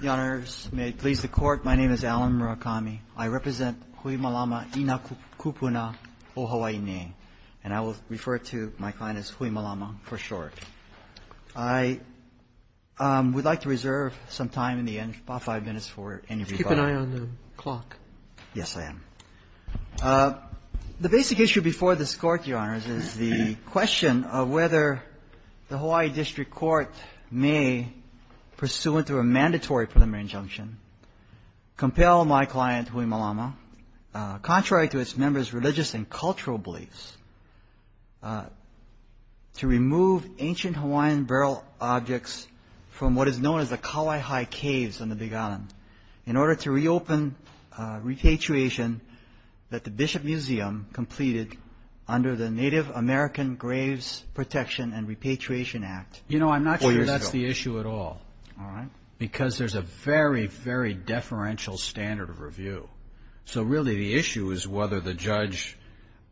Your Honors, may it please the Court, my name is Alan Murakami. I represent Hui Malama I Na Kupuna O Hawaii'i Nei, and I will refer to my client as Hui Malama for short. I would like to reserve some time in the end, about five minutes for anybody. Keep an eye on the clock. Yes, I am. The basic issue before this Court, Your Honors, is the question of whether the Hawaii District Court may, pursuant to a mandatory preliminary injunction, compel my client, Hui Malama, contrary to its members' religious and cultural beliefs, to remove ancient Hawaiian burial objects from what is known as the Kauai High Caves on the Big Island, in order to reopen repatriation that the Bishop Museum completed under the Native American Graves Protection and Repatriation Act. You know, I'm not sure that's the issue at all. All right. Because there's a very, very deferential standard of review. So really, the issue is whether the judge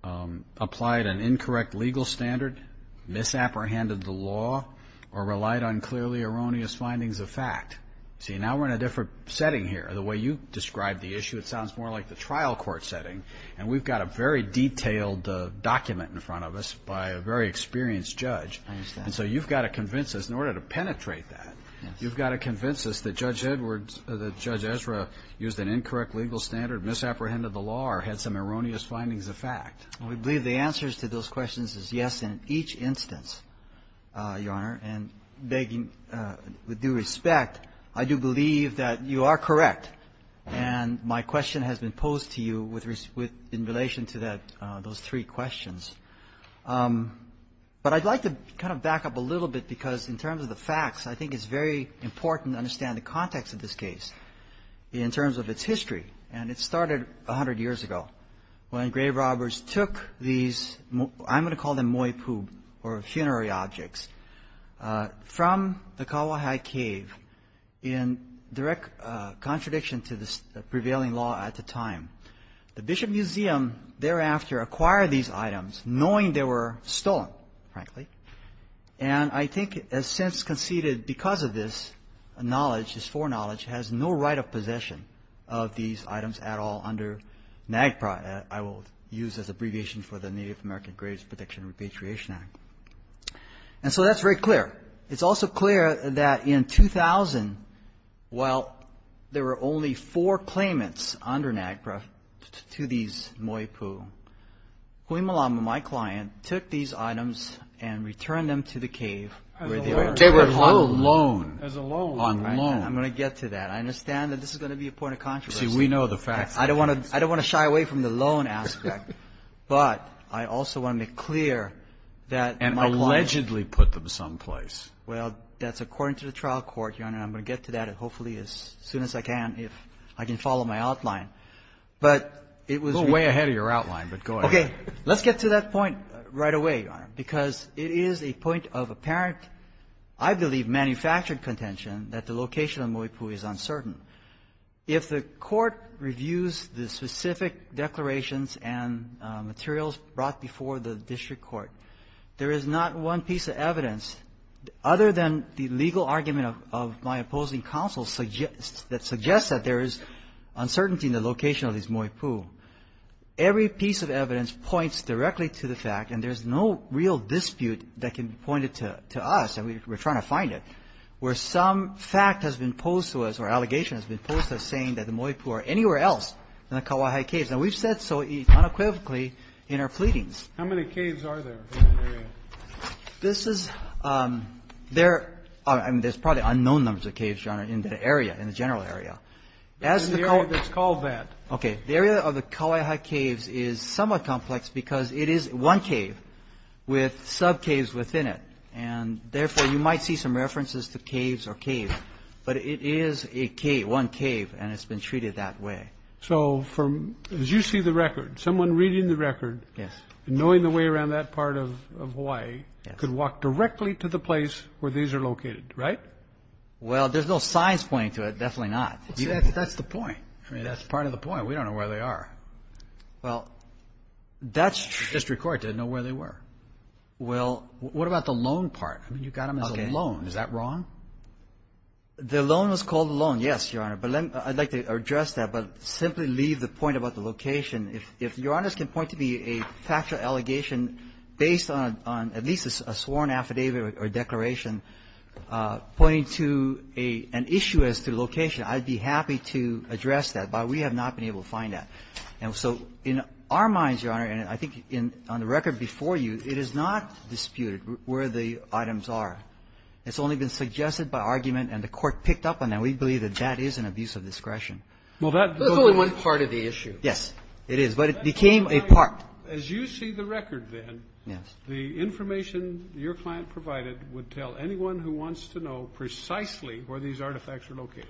applied an incorrect legal standard, misapprehended the law, or relied on clearly erroneous findings of fact. See, now we're in a different setting here. The way you describe the issue, it sounds more like the trial court setting, and we've got a very detailed document in front of us by a very experienced judge. I understand. And so you've got to convince us, in order to penetrate that, you've got to convince us that Judge Edwards, that Judge Ezra used an incorrect legal standard, misapprehended the law, or had some erroneous findings of fact. We believe the answers to those questions is yes in each instance, Your Honor. And begging with due respect, I do believe that you are correct, and my question has been posed to you in relation to those three questions. But I'd like to kind of back up a little bit, because in terms of the facts, I think it's very important to understand the context of this case in terms of its history. And it started 100 years ago, when grave robbers took these, I'm going to call them moipub, or funerary objects, from the Kawahai Cave in direct contradiction to the prevailing law at the time. The Bishop Museum thereafter acquired these items, knowing they were stolen, frankly. And I think, as since conceded because of this knowledge, this foreknowledge, has no right of possession of these items at all under NAGPRA, I will use as abbreviation for the Native American Graves Protection and Repatriation Act. And so that's very clear. It's also clear that in 2000, while there were only four claimants under NAGPRA to these moipub, Hui Malama, my client, took these items and returned them to the cave where they were. On loan. As a loan. On loan. I'm going to get to that. I understand that this is going to be a point of controversy. See, we know the facts. I don't want to shy away from the loan aspect, but I also want to make clear that my client. And allegedly put them someplace. Well, that's according to the trial court, Your Honor, and I'm going to get to that hopefully as soon as I can, if I can follow my outline. But it was. We're way ahead of your outline, but go ahead. Okay. Let's get to that point right away, Your Honor, because it is a point of apparent, I believe, manufactured contention that the location of moipub is uncertain. If the court reviews the specific declarations and materials brought before the district court, there is not one piece of evidence other than the legal argument of my opposing counsel that suggests that there is uncertainty in the location of these moipub. Every piece of evidence points directly to the fact, and there's no real dispute that can point it to us, and we're trying to find it, where some fact has been posed to us, or allegation has been posed to us, saying that the moipub are anywhere else than the Kauai High Caves. Now, we've said so unequivocally in our pleadings. How many caves are there in the area? This is – there – I mean, there's probably unknown numbers of caves, Your Honor, in that area, in the general area. In the area that's called that. Okay. The area of the Kauai High Caves is somewhat complex because it is one cave with sub-caves within it. And therefore, you might see some references to caves or caves, but it is a cave – one cave, and it's been treated that way. So from – as you see the record, someone reading the record. Yes. And knowing the way around that part of Hawaii. Yes. Could walk directly to the place where these are located, right? Well, there's no signs pointing to it. Definitely not. That's the point. I mean, that's part of the point. We don't know where they are. Well, that's district court. They didn't know where they were. Well, what about the loan part? I mean, you got them as a loan. Okay. Is that wrong? The loan was called a loan, yes, Your Honor. But let me – I'd like to address that, but simply leave the point about the location. If Your Honors can point to be a factual allegation based on at least a sworn affidavit or declaration pointing to an issue as to the location, I'd be happy to address that, but we have not been able to find that. And so in our minds, Your Honor, and I think in – on the record before you, it is not disputed where the items are. It's only been suggested by argument and the Court picked up on that. We believe that that is an abuse of discretion. Well, that – That's only one part of the issue. Yes, it is. But it became a part. As you see the record, then, the information your client provided would tell anyone who wants to know precisely where these artifacts are located.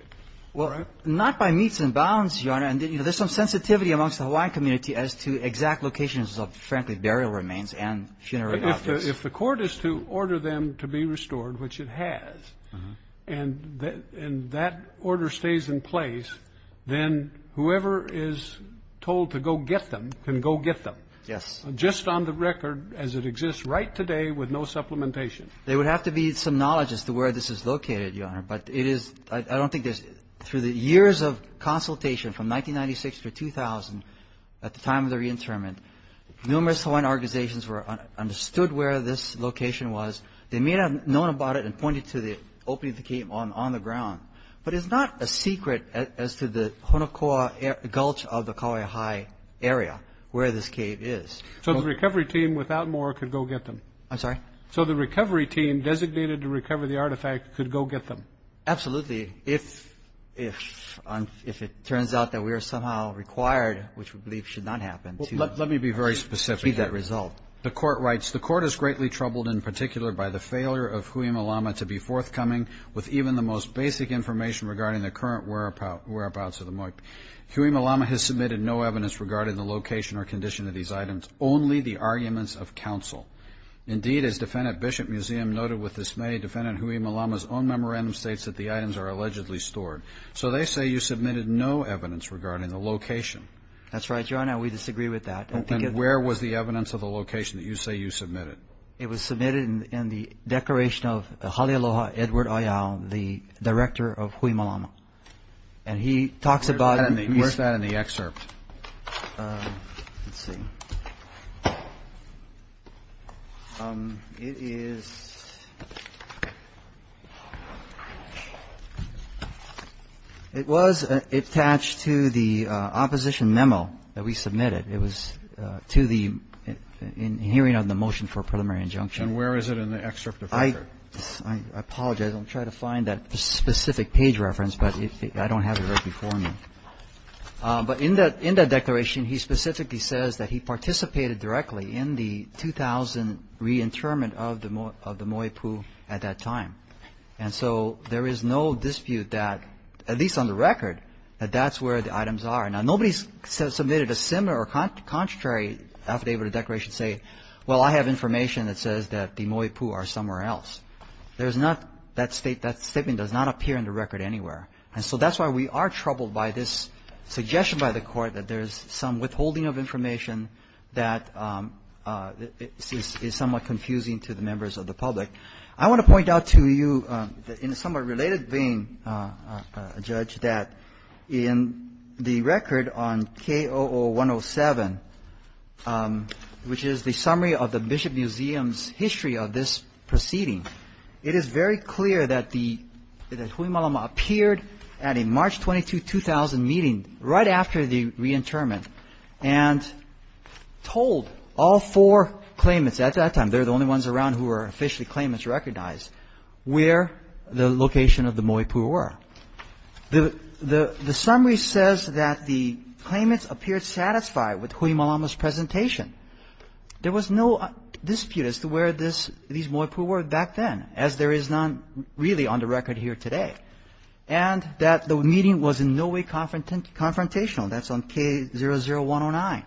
Well, not by meets and bounds, Your Honor. And, you know, there's some sensitivity amongst the Hawaiian community as to exact locations of, frankly, burial remains and funerary objects. If the Court is to order them to be restored, which it has, and that order stays in place, then whoever is told to go get them can go get them. Yes. Just on the record as it exists right today with no supplementation. There would have to be some knowledge as to where this is located, Your Honor. But it is – I don't think there's – through the years of consultation from 1996 to 2000, at the time of the reinterment, numerous Hawaiian organizations understood where this location was. They may not have known about it and pointed to the opening of the cave on the ground. But it's not a secret as to the Honokoa Gulch of the Kauai High Area where this cave is. So the recovery team, without more, could go get them? I'm sorry? So the recovery team designated to recover the artifact could go get them? Absolutely. If it turns out that we are somehow required, which we believe should not happen, to achieve that result. Let me be very specific. The Court writes, The Court is greatly troubled in particular by the failure of Hui Malama to be forthcoming with even the most basic information regarding the current whereabouts of the Moipi. Hui Malama has submitted no evidence regarding the location or condition of these items, only the arguments of counsel. Indeed, as Defendant Bishop-Museum noted with dismay, Defendant Hui Malama's own memorandum states that the items are allegedly stored. So they say you submitted no evidence regarding the location. That's right, Your Honor. We disagree with that. And where was the evidence of the location that you say you submitted? It was submitted in the Declaration of Halealoha Edward Ayao, the director of Hui Malama. And he talks about it. Where's that in the excerpt? Let's see. It is attached to the opposition memo that we submitted. It was to the hearing of the motion for preliminary injunction. And where is it in the excerpt of that? I apologize. I'll try to find that specific page reference, but I don't have it right before me. But in that declaration, he specifically says that he participated directly in the 2000 reinterment of the Moipu at that time. And so there is no dispute that, at least on the record, that that's where the items are. Now, nobody submitted a similar or contrary affidavit or declaration saying, well, I have information that says that the Moipu are somewhere else. That statement does not appear in the record anywhere. And so that's why we are troubled by this suggestion by the court that there is some withholding of information that is somewhat confusing to the members of the public. I want to point out to you in a somewhat related vein, Judge, that in the record on KOO 107, which is the summary of the Bishop Museum's history of this proceeding, it is very clear that the Hui Malama appeared at a March 22, 2000 meeting right after the reinterment and told all four claimants at that time, they're the only ones around who are officially claimants recognized, where the location of the Moipu were. The summary says that the claimants appeared satisfied with Hui Malama's presentation. There was no dispute as to where these Moipu were back then, as there is not really on the record here today, and that the meeting was in no way confrontational. That's on K00109.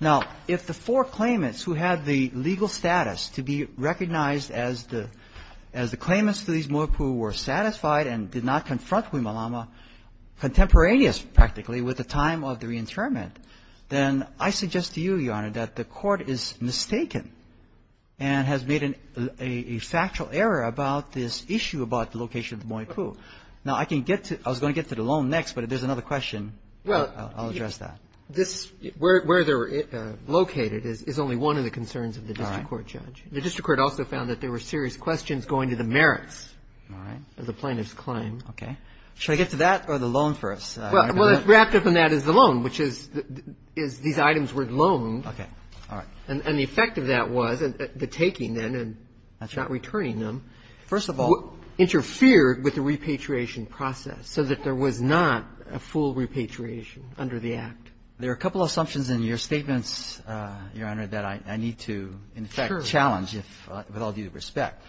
Now, if the four claimants who had the legal status to be recognized as the claimants to these Moipu were satisfied and did not confront Hui Malama contemporaneous practically with the time of the reinterment, then I suggest to you, Your Honor, that the Court is mistaken and has made a factual error about this issue about the location of the Moipu. Now, I can get to it. I was going to get to the loan next, but if there's another question, I'll address that. Well, where they're located is only one of the concerns of the district court, Judge. The district court also found that there were serious questions going to the merits of the plaintiff's claim. Okay. Should I get to that or the loan first? Well, wrapped up in that is the loan, which is these items were loaned. Okay. All right. And the effect of that was the taking then and not returning them. First of all. Interfered with the repatriation process so that there was not a full repatriation under the Act. There are a couple of assumptions in your statements, Your Honor, that I need to in effect challenge with all due respect.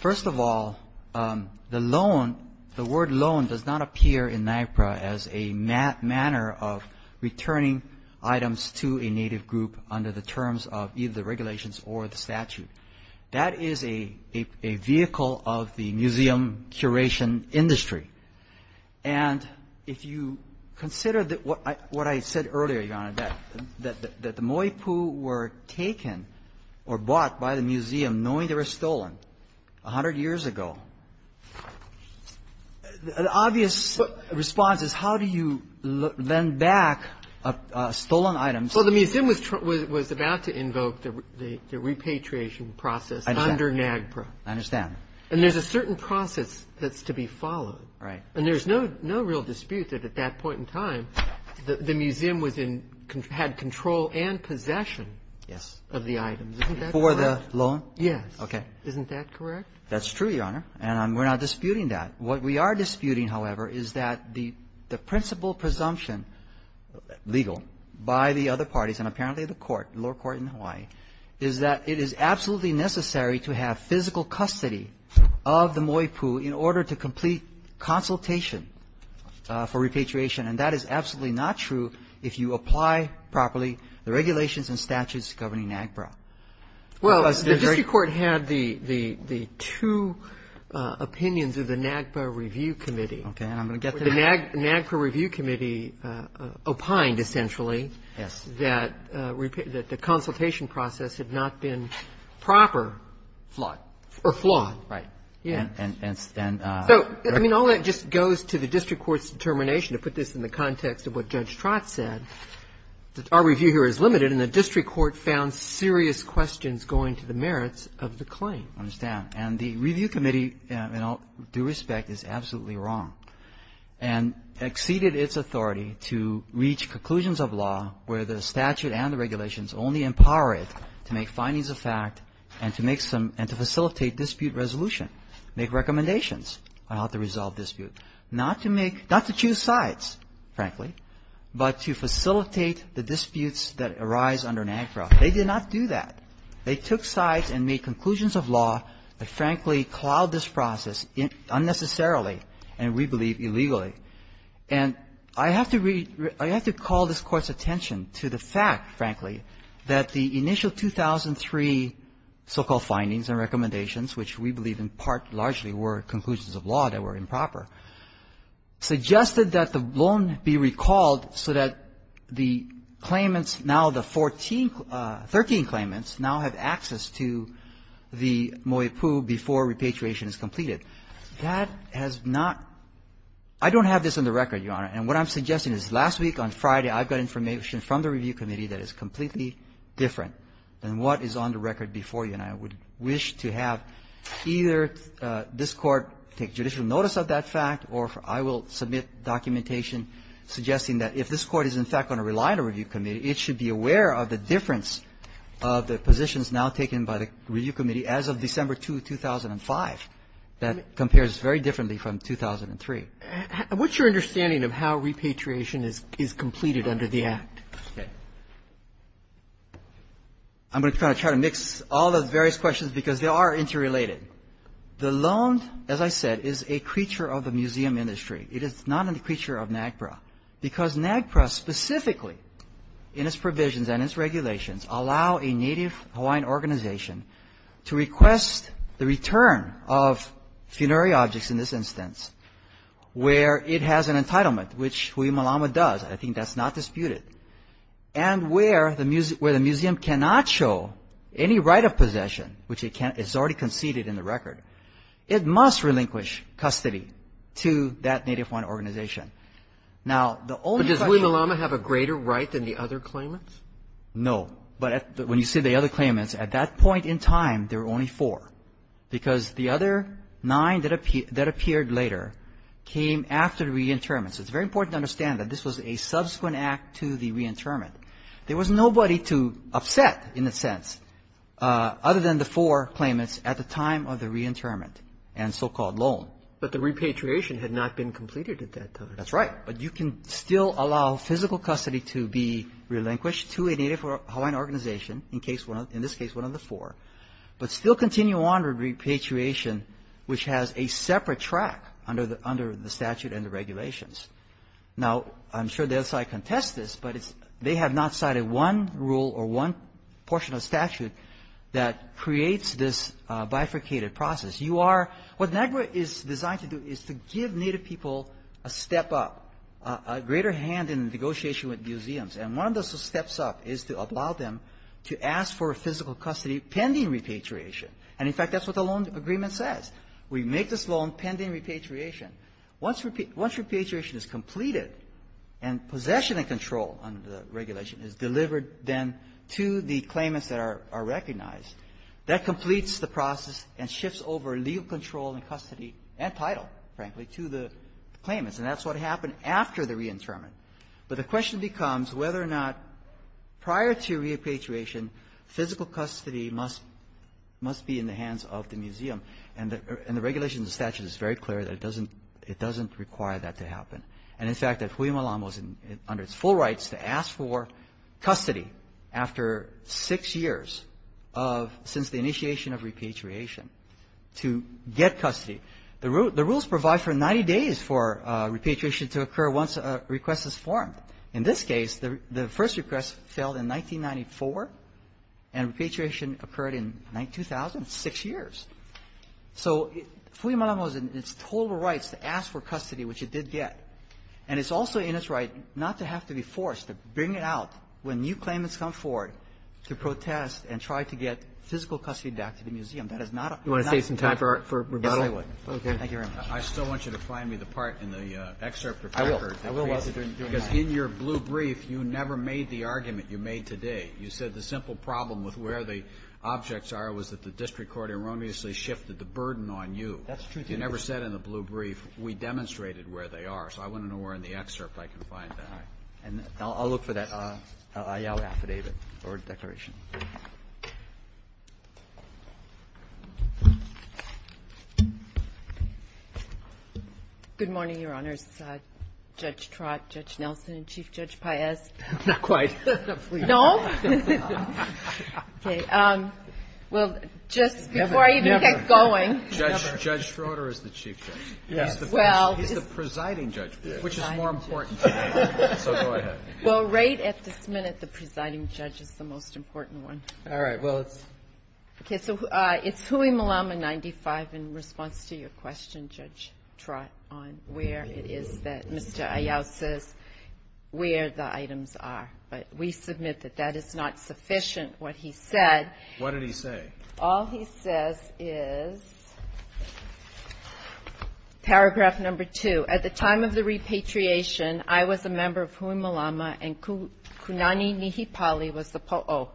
First of all, the loan, the word loan does not appear in NIPRA as a manner of returning items to a native group under the terms of either the regulations or the statute. That is a vehicle of the museum curation industry. And if you consider what I said earlier, Your Honor, that the Moipu were taken or bought by the museum knowing they were stolen a hundred years ago, an obvious response is how do you lend back stolen items? Well, the museum was about to invoke the repatriation process under NAGPRA. I understand. And there's a certain process that's to be followed. Right. And there's no real dispute that at that point in time the museum was in – had control and possession of the items. Isn't that correct? For the loan? Yes. Okay. Isn't that correct? That's true, Your Honor. And we're not disputing that. What we are disputing, however, is that the principal presumption legal by the other parties and apparently the court, lower court in Hawaii, is that it is absolutely necessary to have physical custody of the Moipu in order to complete consultation for repatriation. And that is absolutely not true if you apply properly the regulations and statutes governing NAGPRA. Well, the district court had the two opinions of the NAGPRA review committee. Okay. And I'm going to get to that. The NAGPRA review committee opined, essentially, that the consultation process had not been proper. Flawed. Or flawed. Right. Yes. So, I mean, all that just goes to the district court's determination, to put this in the I found serious questions going to the merits of the claim. I understand. And the review committee, in all due respect, is absolutely wrong and exceeded its authority to reach conclusions of law where the statute and the regulations only empower it to make findings of fact and to make some and to facilitate dispute resolution, make recommendations on how to resolve dispute, not to make not to choose sides, frankly, but to facilitate the disputes that arise under NAGPRA. They did not do that. They took sides and made conclusions of law that, frankly, cloud this process unnecessarily and, we believe, illegally. And I have to call this Court's attention to the fact, frankly, that the initial 2003 so-called findings and recommendations, which we believe in part largely were suggested that the loan be recalled so that the claimants, now the 14, 13 claimants now have access to the moipu before repatriation is completed. That has not ‑‑ I don't have this on the record, Your Honor. And what I'm suggesting is last week on Friday I got information from the review committee that is completely different than what is on the record before you. And I would wish to have either this Court take judicial notice of that fact or I will submit documentation suggesting that if this Court is, in fact, going to rely on a review committee, it should be aware of the difference of the positions now taken by the review committee as of December 2, 2005. That compares very differently from 2003. And what's your understanding of how repatriation is completed under the Act? Okay. I'm going to try to mix all the various questions because they are interrelated. The loan, as I said, is a creature of the museum industry. It is not a creature of NAGPRA because NAGPRA specifically in its provisions and its regulations allow a Native Hawaiian organization to request the return of funerary objects in this instance where it has an entitlement, which Hui Malama does. I think that's not disputed. And where the museum cannot show any right of possession, which it can't, it's already conceded in the record, it must relinquish custody to that Native Hawaiian organization. Now, the only question of the other claimants. No. But when you say the other claimants, at that point in time, there were only four because the other nine that appeared later came after the reinterment. So it's very important to understand that this was a subsequent act to the reinterment. There was nobody to upset, in a sense, other than the four claimants at the time of the reinterment and so-called loan. But the repatriation had not been completed at that time. That's right. But you can still allow physical custody to be relinquished to a Native Hawaiian organization, in this case one of the four, but still continue on with repatriation, which has a separate track under the statute and the regulations. Now, I'm sure the other side contests this, but they have not cited one rule or one portion of statute that creates this bifurcated process. You are what NAGPRA is designed to do is to give Native people a step up, a greater hand in the negotiation with museums. And one of those steps up is to allow them to ask for physical custody pending repatriation. And, in fact, that's what the loan agreement says. We make this loan pending repatriation. Once repatriation is completed and possession and control under the regulation is delivered then to the claimants that are recognized, that completes the process and shifts over legal control and custody and title, frankly, to the claimants. And that's what happened after the reinterment. But the question becomes whether or not prior to repatriation, physical custody must be in the hands of the museum. And the regulations and statute is very clear that it doesn't require that to happen. And, in fact, that Hui Malam was under its full rights to ask for custody after six years since the initiation of repatriation to get custody. The rules provide for 90 days for repatriation to occur once a request is formed. In this case, the first request failed in 1994, and repatriation occurred in 2000, six years. So Hui Malam was in its total rights to ask for custody, which it did get. And it's also in its right not to have to be forced to bring it out when new claimants come forward to protest and try to get physical custody back to the museum. That is not a -- Do you want to save some time for rebuttal? Yes, I would. Okay. Thank you very much. I still want you to find me the part in the excerpt. I will. Because in your blue brief, you never made the argument you made today. You said the simple problem with where the objects are was that the district court erroneously shifted the burden on you. That's true. You never said in the blue brief, we demonstrated where they are. So I want to know where in the excerpt I can find that. All right. I'll look for that IALA affidavit or declaration. Good morning, Your Honors. Judge Trott, Judge Nelson, and Chief Judge Paez. Not quite. No? Okay. Well, just before I even get going. Never. Judge Schroeder is the chief judge. He's the presiding judge, which is more important. So go ahead. Well, right at this minute, the presiding judge is the most important one. All right. Well, it's. Okay. So it's Hui Malama 95 in response to your question, Judge Trott, on where it is that Mr. Ayau says where the items are. But we submit that that is not sufficient, what he said. What did he say? All he says is paragraph number two. At the time of the repatriation, I was a member of Hui Malama, and Kunani Nihipali was the po'o.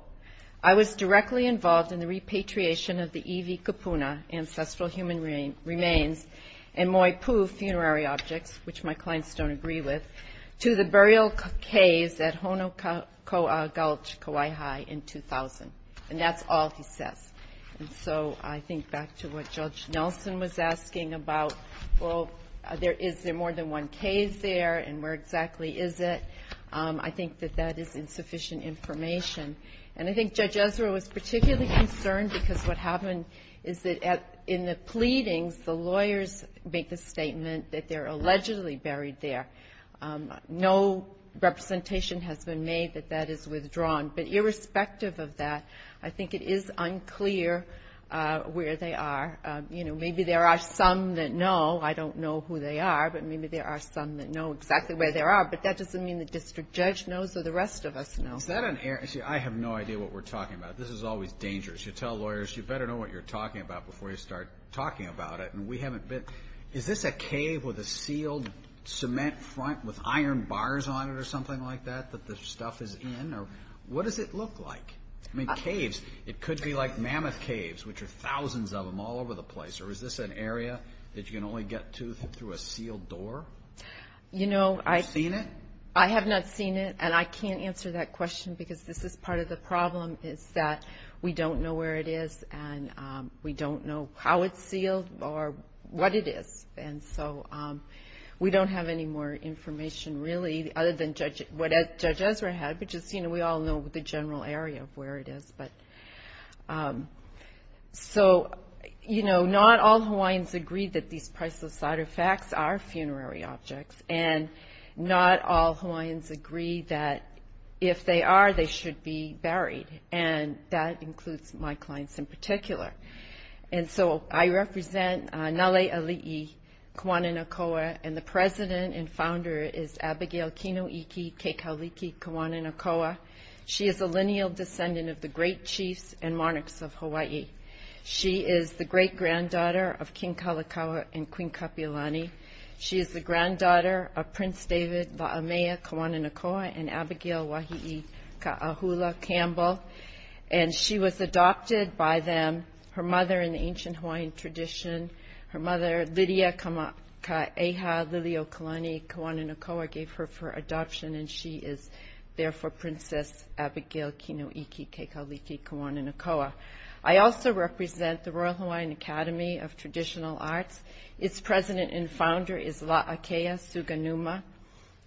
I was directly involved in the repatriation of the Iwi Kupuna, ancestral human remains, and Moipu funerary objects, which my clients don't agree with, to the burial caves at Honokaua Gulch, Kauai High, in 2000. And that's all he says. And so I think back to what Judge Nelson was asking about. Well, is there more than one cave there, and where exactly is it? I think that that is insufficient information. And I think Judge Ezra was particularly concerned, because what happened is that in the pleadings, the lawyers make the statement that they're allegedly buried there. No representation has been made that that is withdrawn. But irrespective of that, I think it is unclear where they are. You know, maybe there are some that know. I don't know who they are, but maybe there are some that know exactly where they are. But that doesn't mean the district judge knows or the rest of us know. Is that an area? See, I have no idea what we're talking about. This is always dangerous. You tell lawyers, you better know what you're talking about before you start talking about it. And we haven't been. Is this a cave with a sealed cement front with iron bars on it or something like that, that the stuff is in? Or what does it look like? I mean, caves, it could be like mammoth caves, which are thousands of them all over the place. Or is this an area that you can only get to through a sealed door? Have you seen it? I have not seen it, and I can't answer that question because this is part of the problem, is that we don't know where it is, and we don't know how it's sealed or what it is. And so we don't have any more information, really, other than what Judge Ezra had, because, you know, we all know the general area of where it is. So, you know, not all Hawaiians agree that these priceless artifacts are funerary objects, and not all Hawaiians agree that if they are, they should be buried. And that includes my clients in particular. And so I represent Nale Ali'i Kauananakoa, and the president and founder is Abigail Kinoiki Keikaliki Kauananakoa. She is a lineal descendant of the great chiefs and monarchs of Hawaii. She is the great-granddaughter of King Kalakaua and Queen Kapiolani. She is the granddaughter of Prince David La'amea Kauananakoa and Abigail Wahii Ka'ahula Campbell. And she was adopted by them, her mother in the ancient Hawaiian tradition, her mother Lydia Ka'eha Lili'uokalani Kauananakoa gave her for adoption, and she is therefore Princess Abigail Kinoiki Keikaliki Kauananakoa. I also represent the Royal Hawaiian Academy of Traditional Arts. Its president and founder is La'akea Suganuma.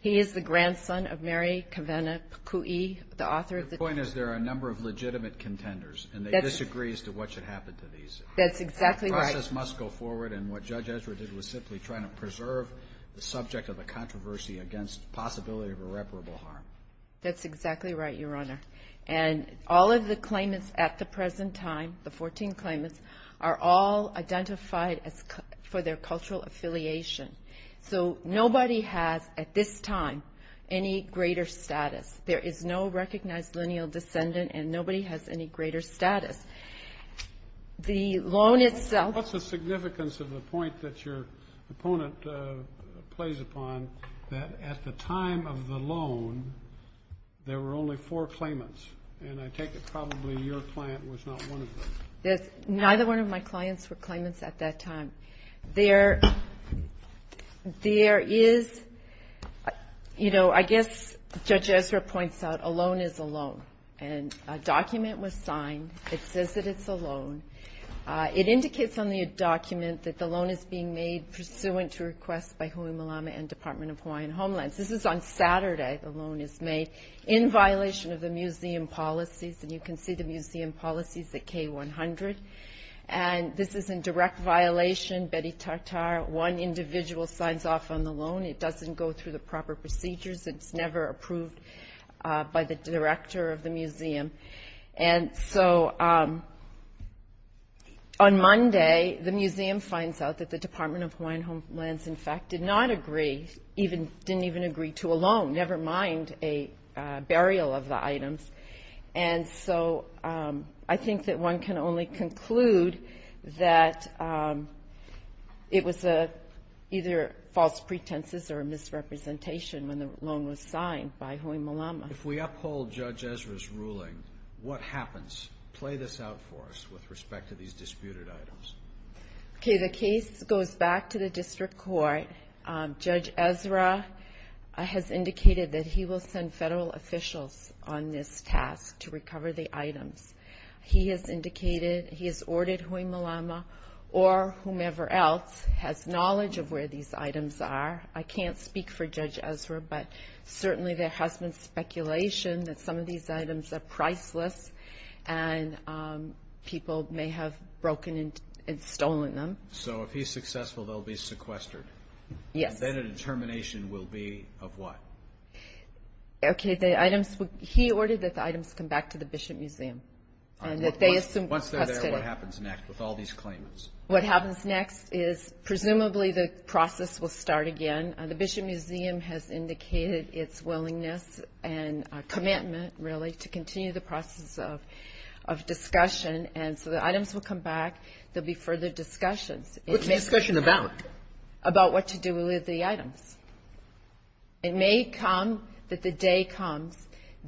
He is the grandson of Mary Kawena Pukui, the author of the... The point is there are a number of legitimate contenders, and they disagree as to what should happen to these. That's exactly right. The process must go forward, and what Judge Ezra did was simply try to preserve the subject of the controversy against the possibility of irreparable harm. That's exactly right, Your Honor. And all of the claimants at the present time, the 14 claimants, are all identified for their cultural affiliation. So nobody has at this time any greater status. There is no recognized lineal descendant, and nobody has any greater status. The loan itself... What's the significance of the point that your opponent plays upon that at the time of the loan there were only four claimants? And I take it probably your client was not one of them. Neither one of my clients were claimants at that time. There is, you know, I guess Judge Ezra points out a loan is a loan, and a document was signed that says that it's a loan. It indicates on the document that the loan is being made pursuant to requests by Hui Malama and Department of Hawaiian Homelands. This is on Saturday the loan is made in violation of the museum policies, and you can see the museum policies at K100. And this is in direct violation. One individual signs off on the loan. It doesn't go through the proper procedures. It's never approved by the director of the museum. And so on Monday the museum finds out that the Department of Hawaiian Homelands, in fact, did not agree, didn't even agree to a loan, never mind a burial of the items. And so I think that one can only conclude that it was either false pretenses or a misrepresentation when the loan was signed by Hui Malama. If we uphold Judge Ezra's ruling, what happens? Play this out for us with respect to these disputed items. Okay, the case goes back to the district court. Judge Ezra has indicated that he will send federal officials on this task to recover the items. He has indicated he has ordered Hui Malama or whomever else has knowledge of where these items are. I can't speak for Judge Ezra, but certainly there has been speculation that some of these items are priceless and people may have broken and stolen them. So if he's successful, they'll be sequestered. Yes. And then a determination will be of what? Okay, he ordered that the items come back to the Bishop Museum. Once they're there, what happens next with all these claimants? What happens next is presumably the process will start again. The Bishop Museum has indicated its willingness and commitment, really, to continue the process of discussion. And so the items will come back. There will be further discussions. What's the discussion about? About what to do with the items. It may come that the day comes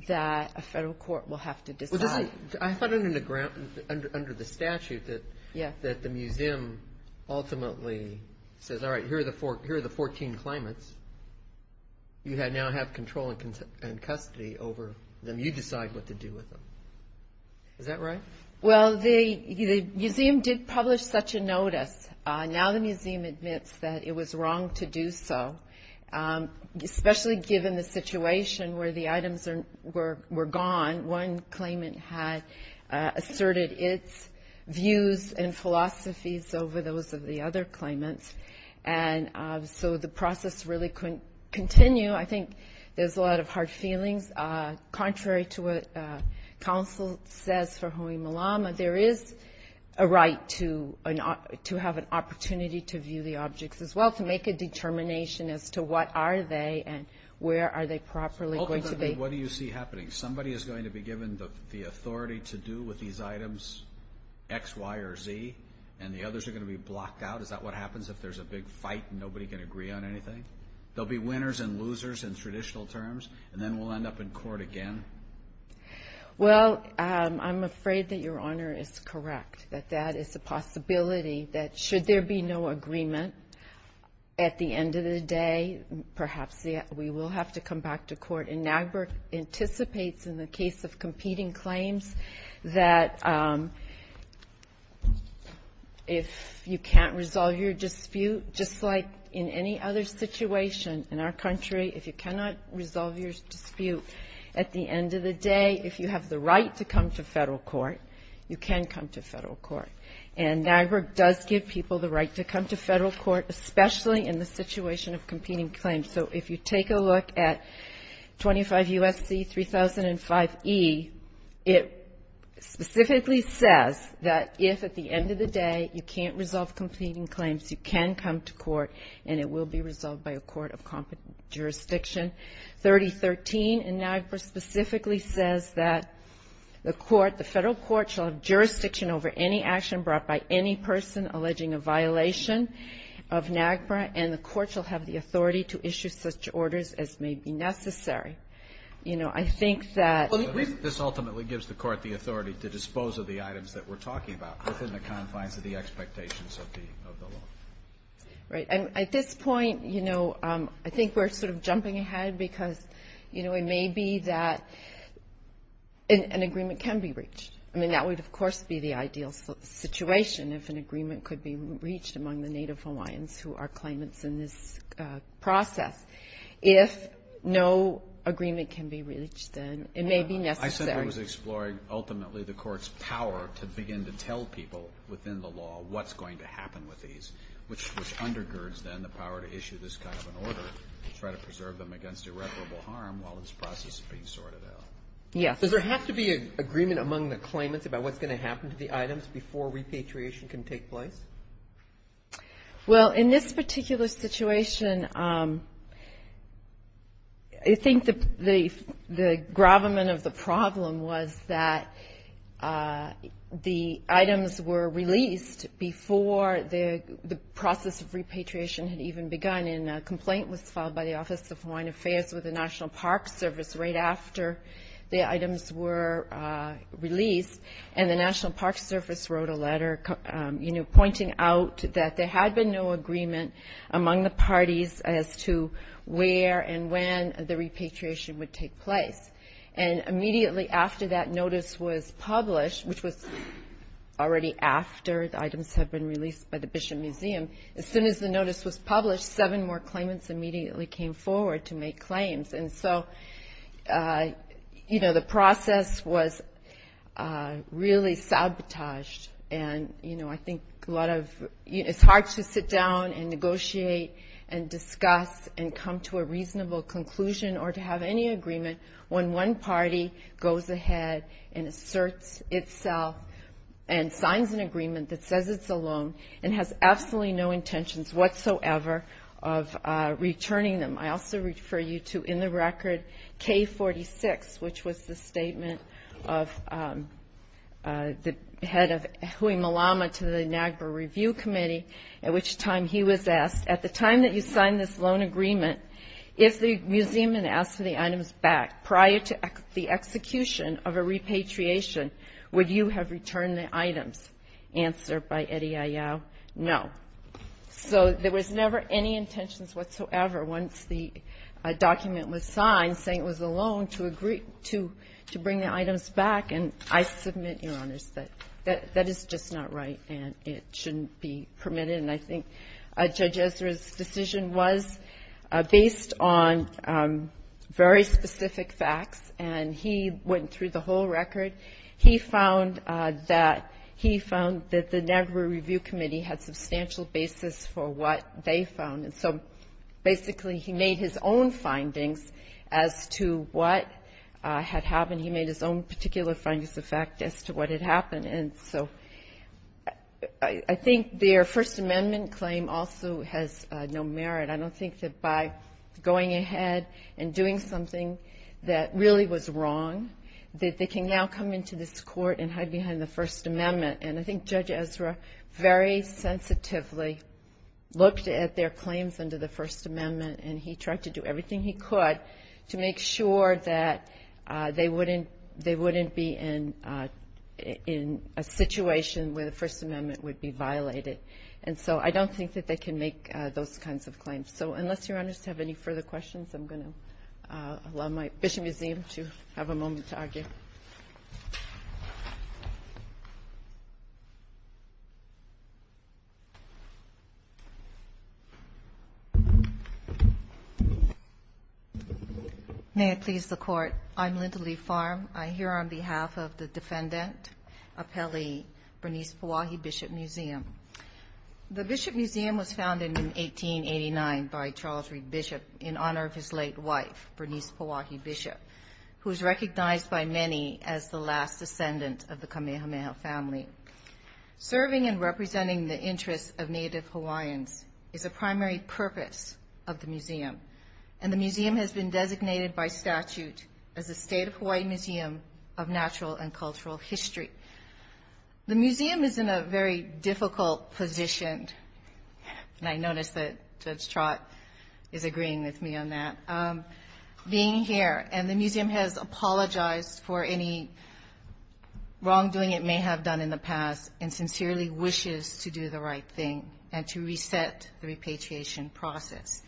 that a federal court will have to decide. I thought under the statute that the museum ultimately says, all right, here are the 14 claimants. You now have control and custody over them. You decide what to do with them. Is that right? Well, the museum did publish such a notice. Now the museum admits that it was wrong to do so, especially given the situation where the items were gone. One claimant had asserted its views and philosophies over those of the other claimants. And so the process really couldn't continue. I think there's a lot of hard feelings. Contrary to what counsel says for Hoi Malama, there is a right to have an opportunity to view the objects as well, to make a determination as to what are they and where are they properly going to be. What do you see happening? Somebody is going to be given the authority to do with these items X, Y, or Z, and the others are going to be blocked out? Is that what happens if there's a big fight and nobody can agree on anything? There will be winners and losers in traditional terms, and then we'll end up in court again? Well, I'm afraid that Your Honor is correct, that that is a possibility that should there be no agreement, at the end of the day perhaps we will have to come back to court. And NAGPRA anticipates in the case of competing claims that if you can't resolve your dispute, just like in any other situation in our country, if you cannot resolve your dispute at the end of the day, if you have the right to come to federal court, you can come to federal court. And NAGPRA does give people the right to come to federal court, especially in the situation of competing claims. So if you take a look at 25 U.S.C. 3005E, it specifically says that if at the end of the day you can't resolve competing claims, you can come to court and it will be resolved by a court of jurisdiction. 3013 in NAGPRA specifically says that the court, the federal court shall have jurisdiction over any action brought by any person alleging a violation of NAGPRA, and the court shall have the authority to issue such orders as may be necessary. You know, I think that... At least this ultimately gives the court the authority to dispose of the items that we're talking about within the confines of the expectations of the law. Right. And at this point, you know, I think we're sort of jumping ahead because, you know, it may be that an agreement can be reached. I mean, that would, of course, be the ideal situation if an agreement could be reached among the Native Hawaiians who are claimants in this process. If no agreement can be reached, then it may be necessary. I said I was exploring ultimately the court's power to begin to tell people within the law what's going to happen with these, which undergirds then the power to issue this kind of an order to try to preserve them against irreparable harm while this process is being sorted out. Yes. Does there have to be an agreement among the claimants about what's going to happen to the items before repatriation can take place? Well, in this particular situation, I think the gravamen of the problem was that the items were released before the process of repatriation had even begun. And a complaint was filed by the Office of Hawaiian Affairs with the National Park Service right after the items were released. And the National Park Service wrote a letter, you know, pointing out that there had been no agreement among the parties as to where and when the repatriation would take place. And immediately after that notice was published, which was already after the items had been released by the Bishop Museum, as soon as the notice was published, seven more claimants immediately came forward to make claims. And so, you know, the process was really sabotaged. And, you know, I think a lot of you know, it's hard to sit down and negotiate and discuss and come to a reasonable conclusion or to have any agreement when one party goes ahead and asserts itself and signs an agreement that says it's a loan and has absolutely no intentions whatsoever of returning them. I also refer you to, in the record, K-46, which was the statement of the head of Hui Malama to the NAGPRA Review Committee, at which time he was asked, at the time that you signed this loan agreement, if the museum had asked for the items back prior to the execution of a repatriation, would you have returned the items? Answered by Eddie Ayau, no. So there was never any intentions whatsoever once the document was signed saying it was a loan to bring the items back. And I submit, Your Honors, that that is just not right and it shouldn't be permitted. And I think Judge Ezra's decision was based on very specific facts, and he went through the whole record. He found that the NAGPRA Review Committee had substantial basis for what they found. And so basically he made his own findings as to what had happened. He made his own particular findings of fact as to what had happened. And so I think their First Amendment claim also has no merit. I don't think that by going ahead and doing something that really was wrong that they can now come into this court and hide behind the First Amendment. And I think Judge Ezra very sensitively looked at their claims under the First Amendment, and he tried to do everything he could to make sure that they wouldn't be in a situation where the First Amendment would be violated. And so I don't think that they can make those kinds of claims. So unless Your Honors have any further questions, I'm going to allow my Bishop Museum to have a moment to argue. May it please the Court, I'm Linda Lee Farm. I'm here on behalf of the Defendant Appellee, Bernice Pauahi Bishop Museum. The Bishop Museum was founded in 1889 by Charles Reed Bishop in honor of his late wife, Bernice Pauahi Bishop, who is recognized by many as the last descendant of the Kamehameha family. Serving and representing the interests of Native Hawaiians is a primary purpose of the museum. And the museum has been designated by statute as a State of Hawaii Museum of Natural and Cultural History. The museum is in a very difficult position, and I notice that Judge Trott is agreeing with me on that, being here. And the museum has apologized for any wrongdoing it may have done in the past and sincerely wishes to do the right thing and to reset the repatriation process.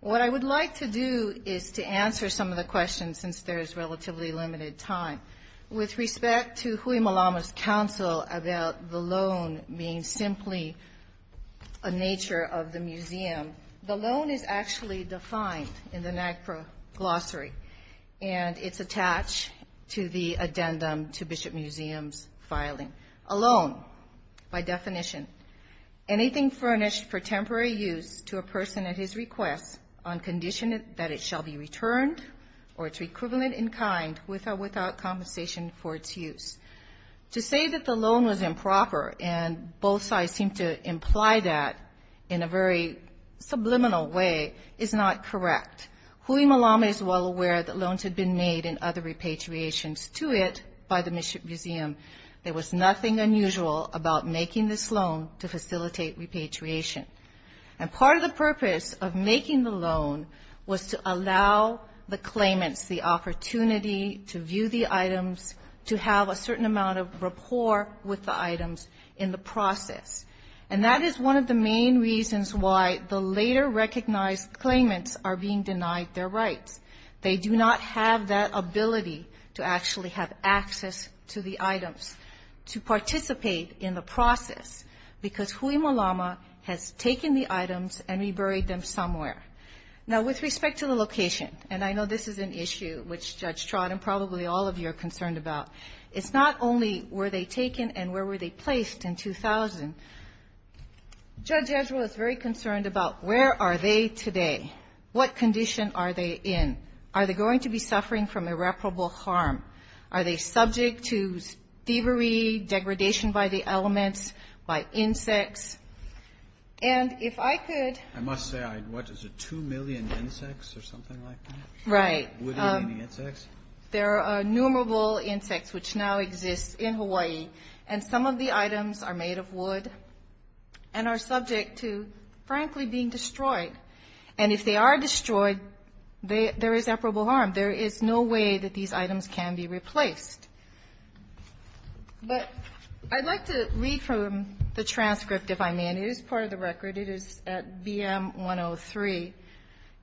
What I would like to do is to answer some of the questions since there is relatively limited time. With respect to Hui Malama's counsel about the loan being simply a nature of the museum, the loan is actually defined in the NAGPRA Glossary, and it's attached to the addendum to Bishop Museum's filing. A loan, by definition, anything furnished for temporary use to a person at his request on condition that it shall be returned or to be equivalent in kind without compensation for its use. To say that the loan was improper, and both sides seem to imply that in a very subliminal way, is not correct. Hui Malama is well aware that loans had been made in other repatriations to it by the museum. There was nothing unusual about making this loan to facilitate repatriation. And part of the purpose of making the loan was to allow the claimants the opportunity to view the items, to have a certain amount of rapport with the items in the process. And that is one of the main reasons why the later recognized claimants are being denied their rights. They do not have that ability to actually have access to the items, to participate in the process, because Hui Malama has taken the items and reburied them somewhere. Now, with respect to the location, and I know this is an issue which Judge Trott and probably all of you are concerned about, it's not only were they taken and where were they placed in 2000. Judge Edgewell is very concerned about where are they today? What condition are they in? Are they going to be suffering from irreparable harm? Are they subject to thievery, degradation by the elements, by insects? And if I could. I must say, what is it, 2 million insects or something like that? Right. Wood eating insects? There are innumerable insects which now exist in Hawaii. And some of the items are made of wood and are subject to, frankly, being destroyed. And if they are destroyed, there is irreparable harm. There is no way that these items can be replaced. But I'd like to read from the transcript, if I may. And it is part of the record. It is at BM 103.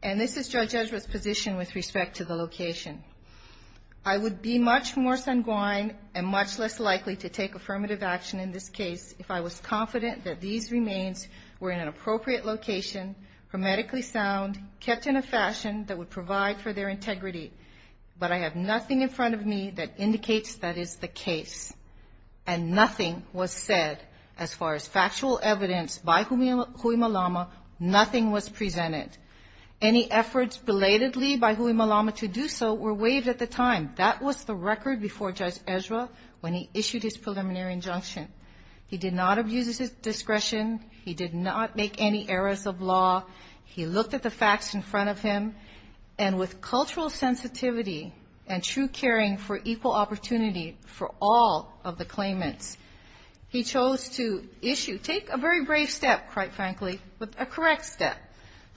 And this is Judge Edgewell's position with respect to the location. I would be much more sanguine and much less likely to take affirmative action in this case if I was confident that these remains were in an appropriate location, hermetically sound, kept in a fashion that would provide for their integrity. But I have nothing in front of me that indicates that is the case. And nothing was said as far as factual evidence by Hui Malama. Nothing was presented. Any efforts belatedly by Hui Malama to do so were waived at the time. That was the record before Judge Edgewell when he issued his preliminary injunction. He did not abuse his discretion. He did not make any errors of law. He looked at the facts in front of him. And with cultural sensitivity and true caring for equal opportunity for all of the claimants, he chose to issue, take a very brave step, quite frankly, but a correct step,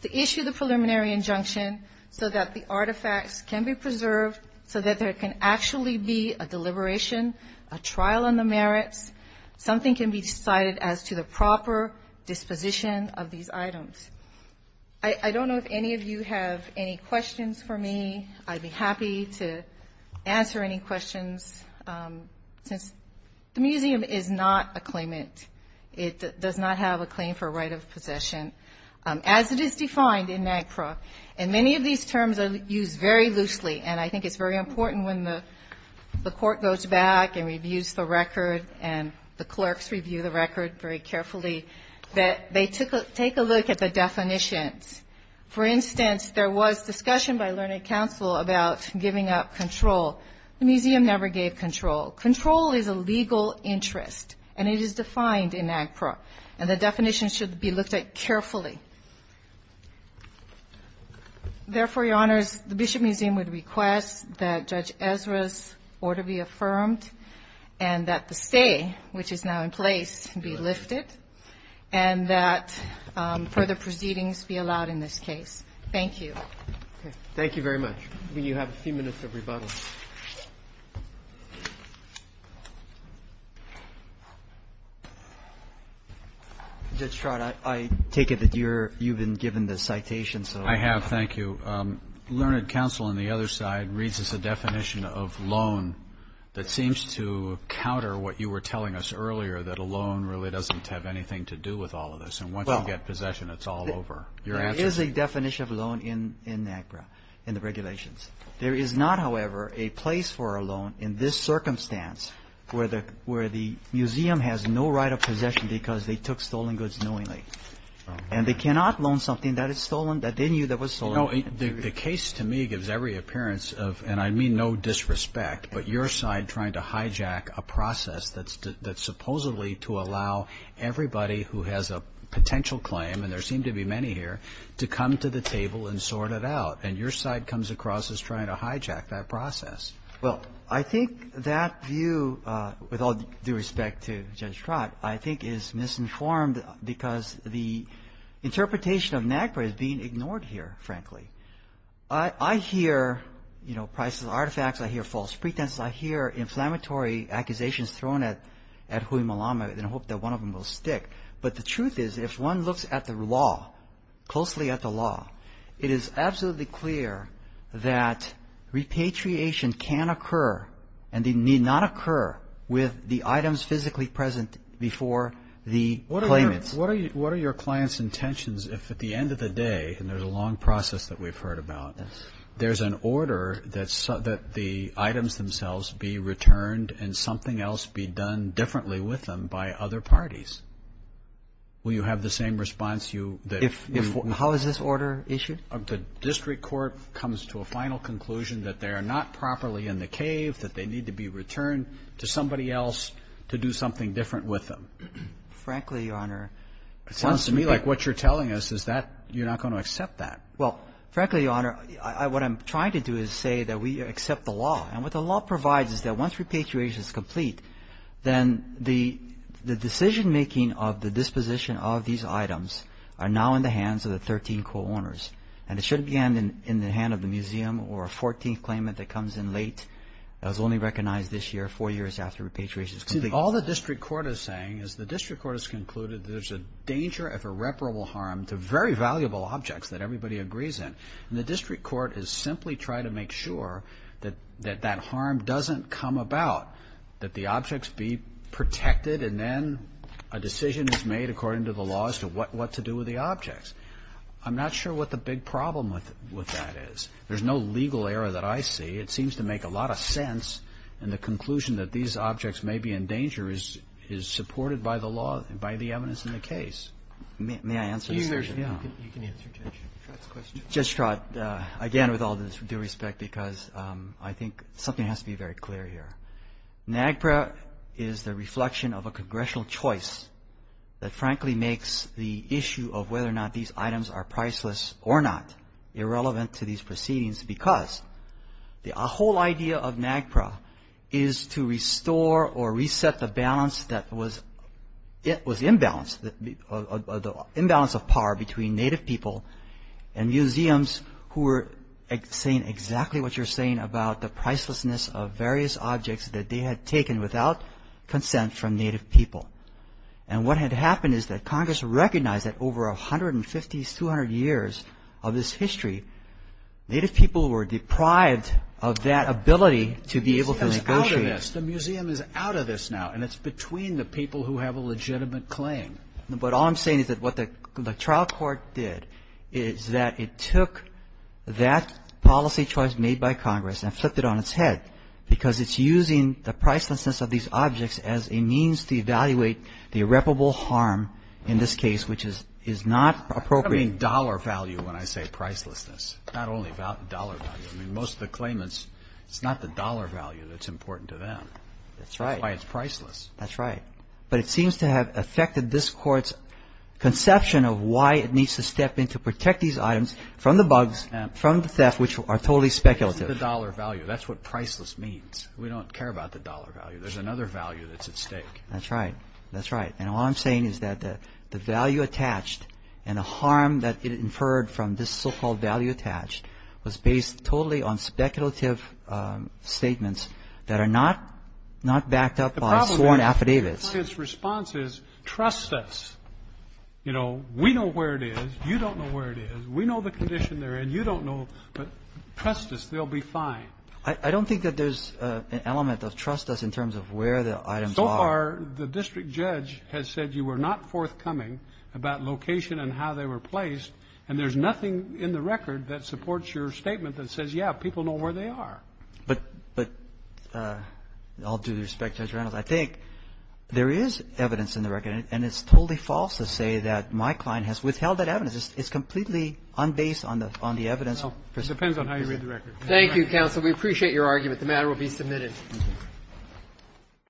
to issue the preliminary injunction so that the artifacts can be preserved, so that there can actually be a deliberation, a trial on the merits. Something can be decided as to the proper disposition of these items. I don't know if any of you have any questions for me. I'd be happy to answer any questions. Since the museum is not a claimant, it does not have a claim for right of possession, as it is defined in NAGPRA. And many of these terms are used very loosely. And I think it's very important when the court goes back and reviews the record and the clerks review the record very carefully that they take a look at the definitions. For instance, there was discussion by Learning Council about giving up control. The museum never gave control. Control is a legal interest, and it is defined in NAGPRA. And the definition should be looked at carefully. Therefore, Your Honors, the Bishop Museum would request that Judge Ezra's order be affirmed and that the stay, which is now in place, be lifted, and that further proceedings be allowed in this case. Thank you. Thank you very much. You have a few minutes of rebuttal. Judge Stroud, I take it that you've been given the citation. I have. Thank you. Learning Council on the other side reads as a definition of loan that seems to counter what you were telling us earlier, that a loan really doesn't have anything to do with all of this. And once you get possession, it's all over. There is a definition of loan in NAGPRA, in the regulations. There is not, however, a place for a loan in this circumstance, where the museum has no right of possession because they took stolen goods knowingly. And they cannot loan something that is stolen, that they knew that was stolen. You know, the case to me gives every appearance of, and I mean no disrespect, but your side trying to hijack a process that's supposedly to allow everybody who has a potential claim, and there seem to be many here, to come to the table and sort it out. And your side comes across as trying to hijack that process. Well, I think that view, with all due respect to Judge Stroud, I think is misinformed because the interpretation of NAGPRA is being ignored here, frankly. I hear, you know, prices of artifacts. I hear false pretenses. I hear inflammatory accusations thrown at Huey Malama, and I hope that one of them will stick. But the truth is, if one looks at the law, closely at the law, it is absolutely clear that repatriation can occur and need not occur with the items physically present before the claimants. What are your client's intentions if at the end of the day, and there's a long process that we've heard about, there's an order that the items themselves be returned and something else be done differently with them by other parties? Will you have the same response? How is this order issued? The district court comes to a final conclusion that they are not properly in the cave, that they need to be returned to somebody else to do something different with them. Frankly, Your Honor, it sounds to me like what you're telling us is that you're not going to accept that. Well, frankly, Your Honor, what I'm trying to do is say that we accept the law. And what the law provides is that once repatriation is complete, then the decision-making of the disposition of these items are now in the hands of the 13 co-owners. And it shouldn't be in the hand of the museum or a 14th claimant that comes in late that was only recognized this year, four years after repatriation is complete. See, all the district court is saying is the district court has concluded there's a danger of irreparable harm to very valuable objects that everybody agrees in. And the district court is simply trying to make sure that that harm doesn't come about, that the objects be protected, and then a decision is made according to the law as to what to do with the objects. I'm not sure what the big problem with that is. There's no legal error that I see. It seems to make a lot of sense in the conclusion that these objects may be in danger is supported by the law, by the evidence in the case. May I answer this question? Yeah. You can answer Judge Stratton's question. Judge Stratton, again, with all due respect, because I think something has to be very clear here. NAGPRA is the reflection of a congressional choice that frankly makes the issue of whether or not these items are priceless or not irrelevant to these proceedings because the whole idea of NAGPRA is to restore or reset the balance that was imbalanced, the imbalance of power between Native people and museums who were saying exactly what you're saying about the pricelessness of various objects that they had taken without consent from Native people. And what had happened is that Congress recognized that over 150, 200 years of this history, Native people were deprived of that ability to be able to negotiate. The museum is out of this now, and it's between the people who have a legitimate claim. But all I'm saying is that what the trial court did is that it took that policy choice made by Congress and flipped it on its head because it's using the pricelessness of these objects as a means to evaluate the irreparable harm in this case, which is not appropriate. I don't mean dollar value when I say pricelessness, not only dollar value. Most of the claimants, it's not the dollar value that's important to them. That's right. That's why it's priceless. That's right. But it seems to have affected this court's conception of why it needs to step in to protect these items from the bugs, from the theft, which are totally speculative. It's the dollar value. That's what priceless means. We don't care about the dollar value. There's another value that's at stake. That's right. That's right. And all I'm saying is that the value attached and the harm that it inferred from this so-called value attached was based totally on speculative statements that are not backed up by sworn affidavits. The problem with the client's response is trust us. You know, we know where it is. You don't know where it is. We know the condition they're in. You don't know. But trust us. They'll be fine. I don't think that there's an element of trust us in terms of where the items are. So far, the district judge has said you were not forthcoming about location and how they were placed, and there's nothing in the record that supports your statement that says, yeah, people know where they are. But I'll do respect Judge Reynolds. I think there is evidence in the record, and it's totally false to say that my client has withheld that evidence. It's completely unbased on the evidence. It depends on how you read the record. Thank you, counsel. We appreciate your argument. The matter will be submitted.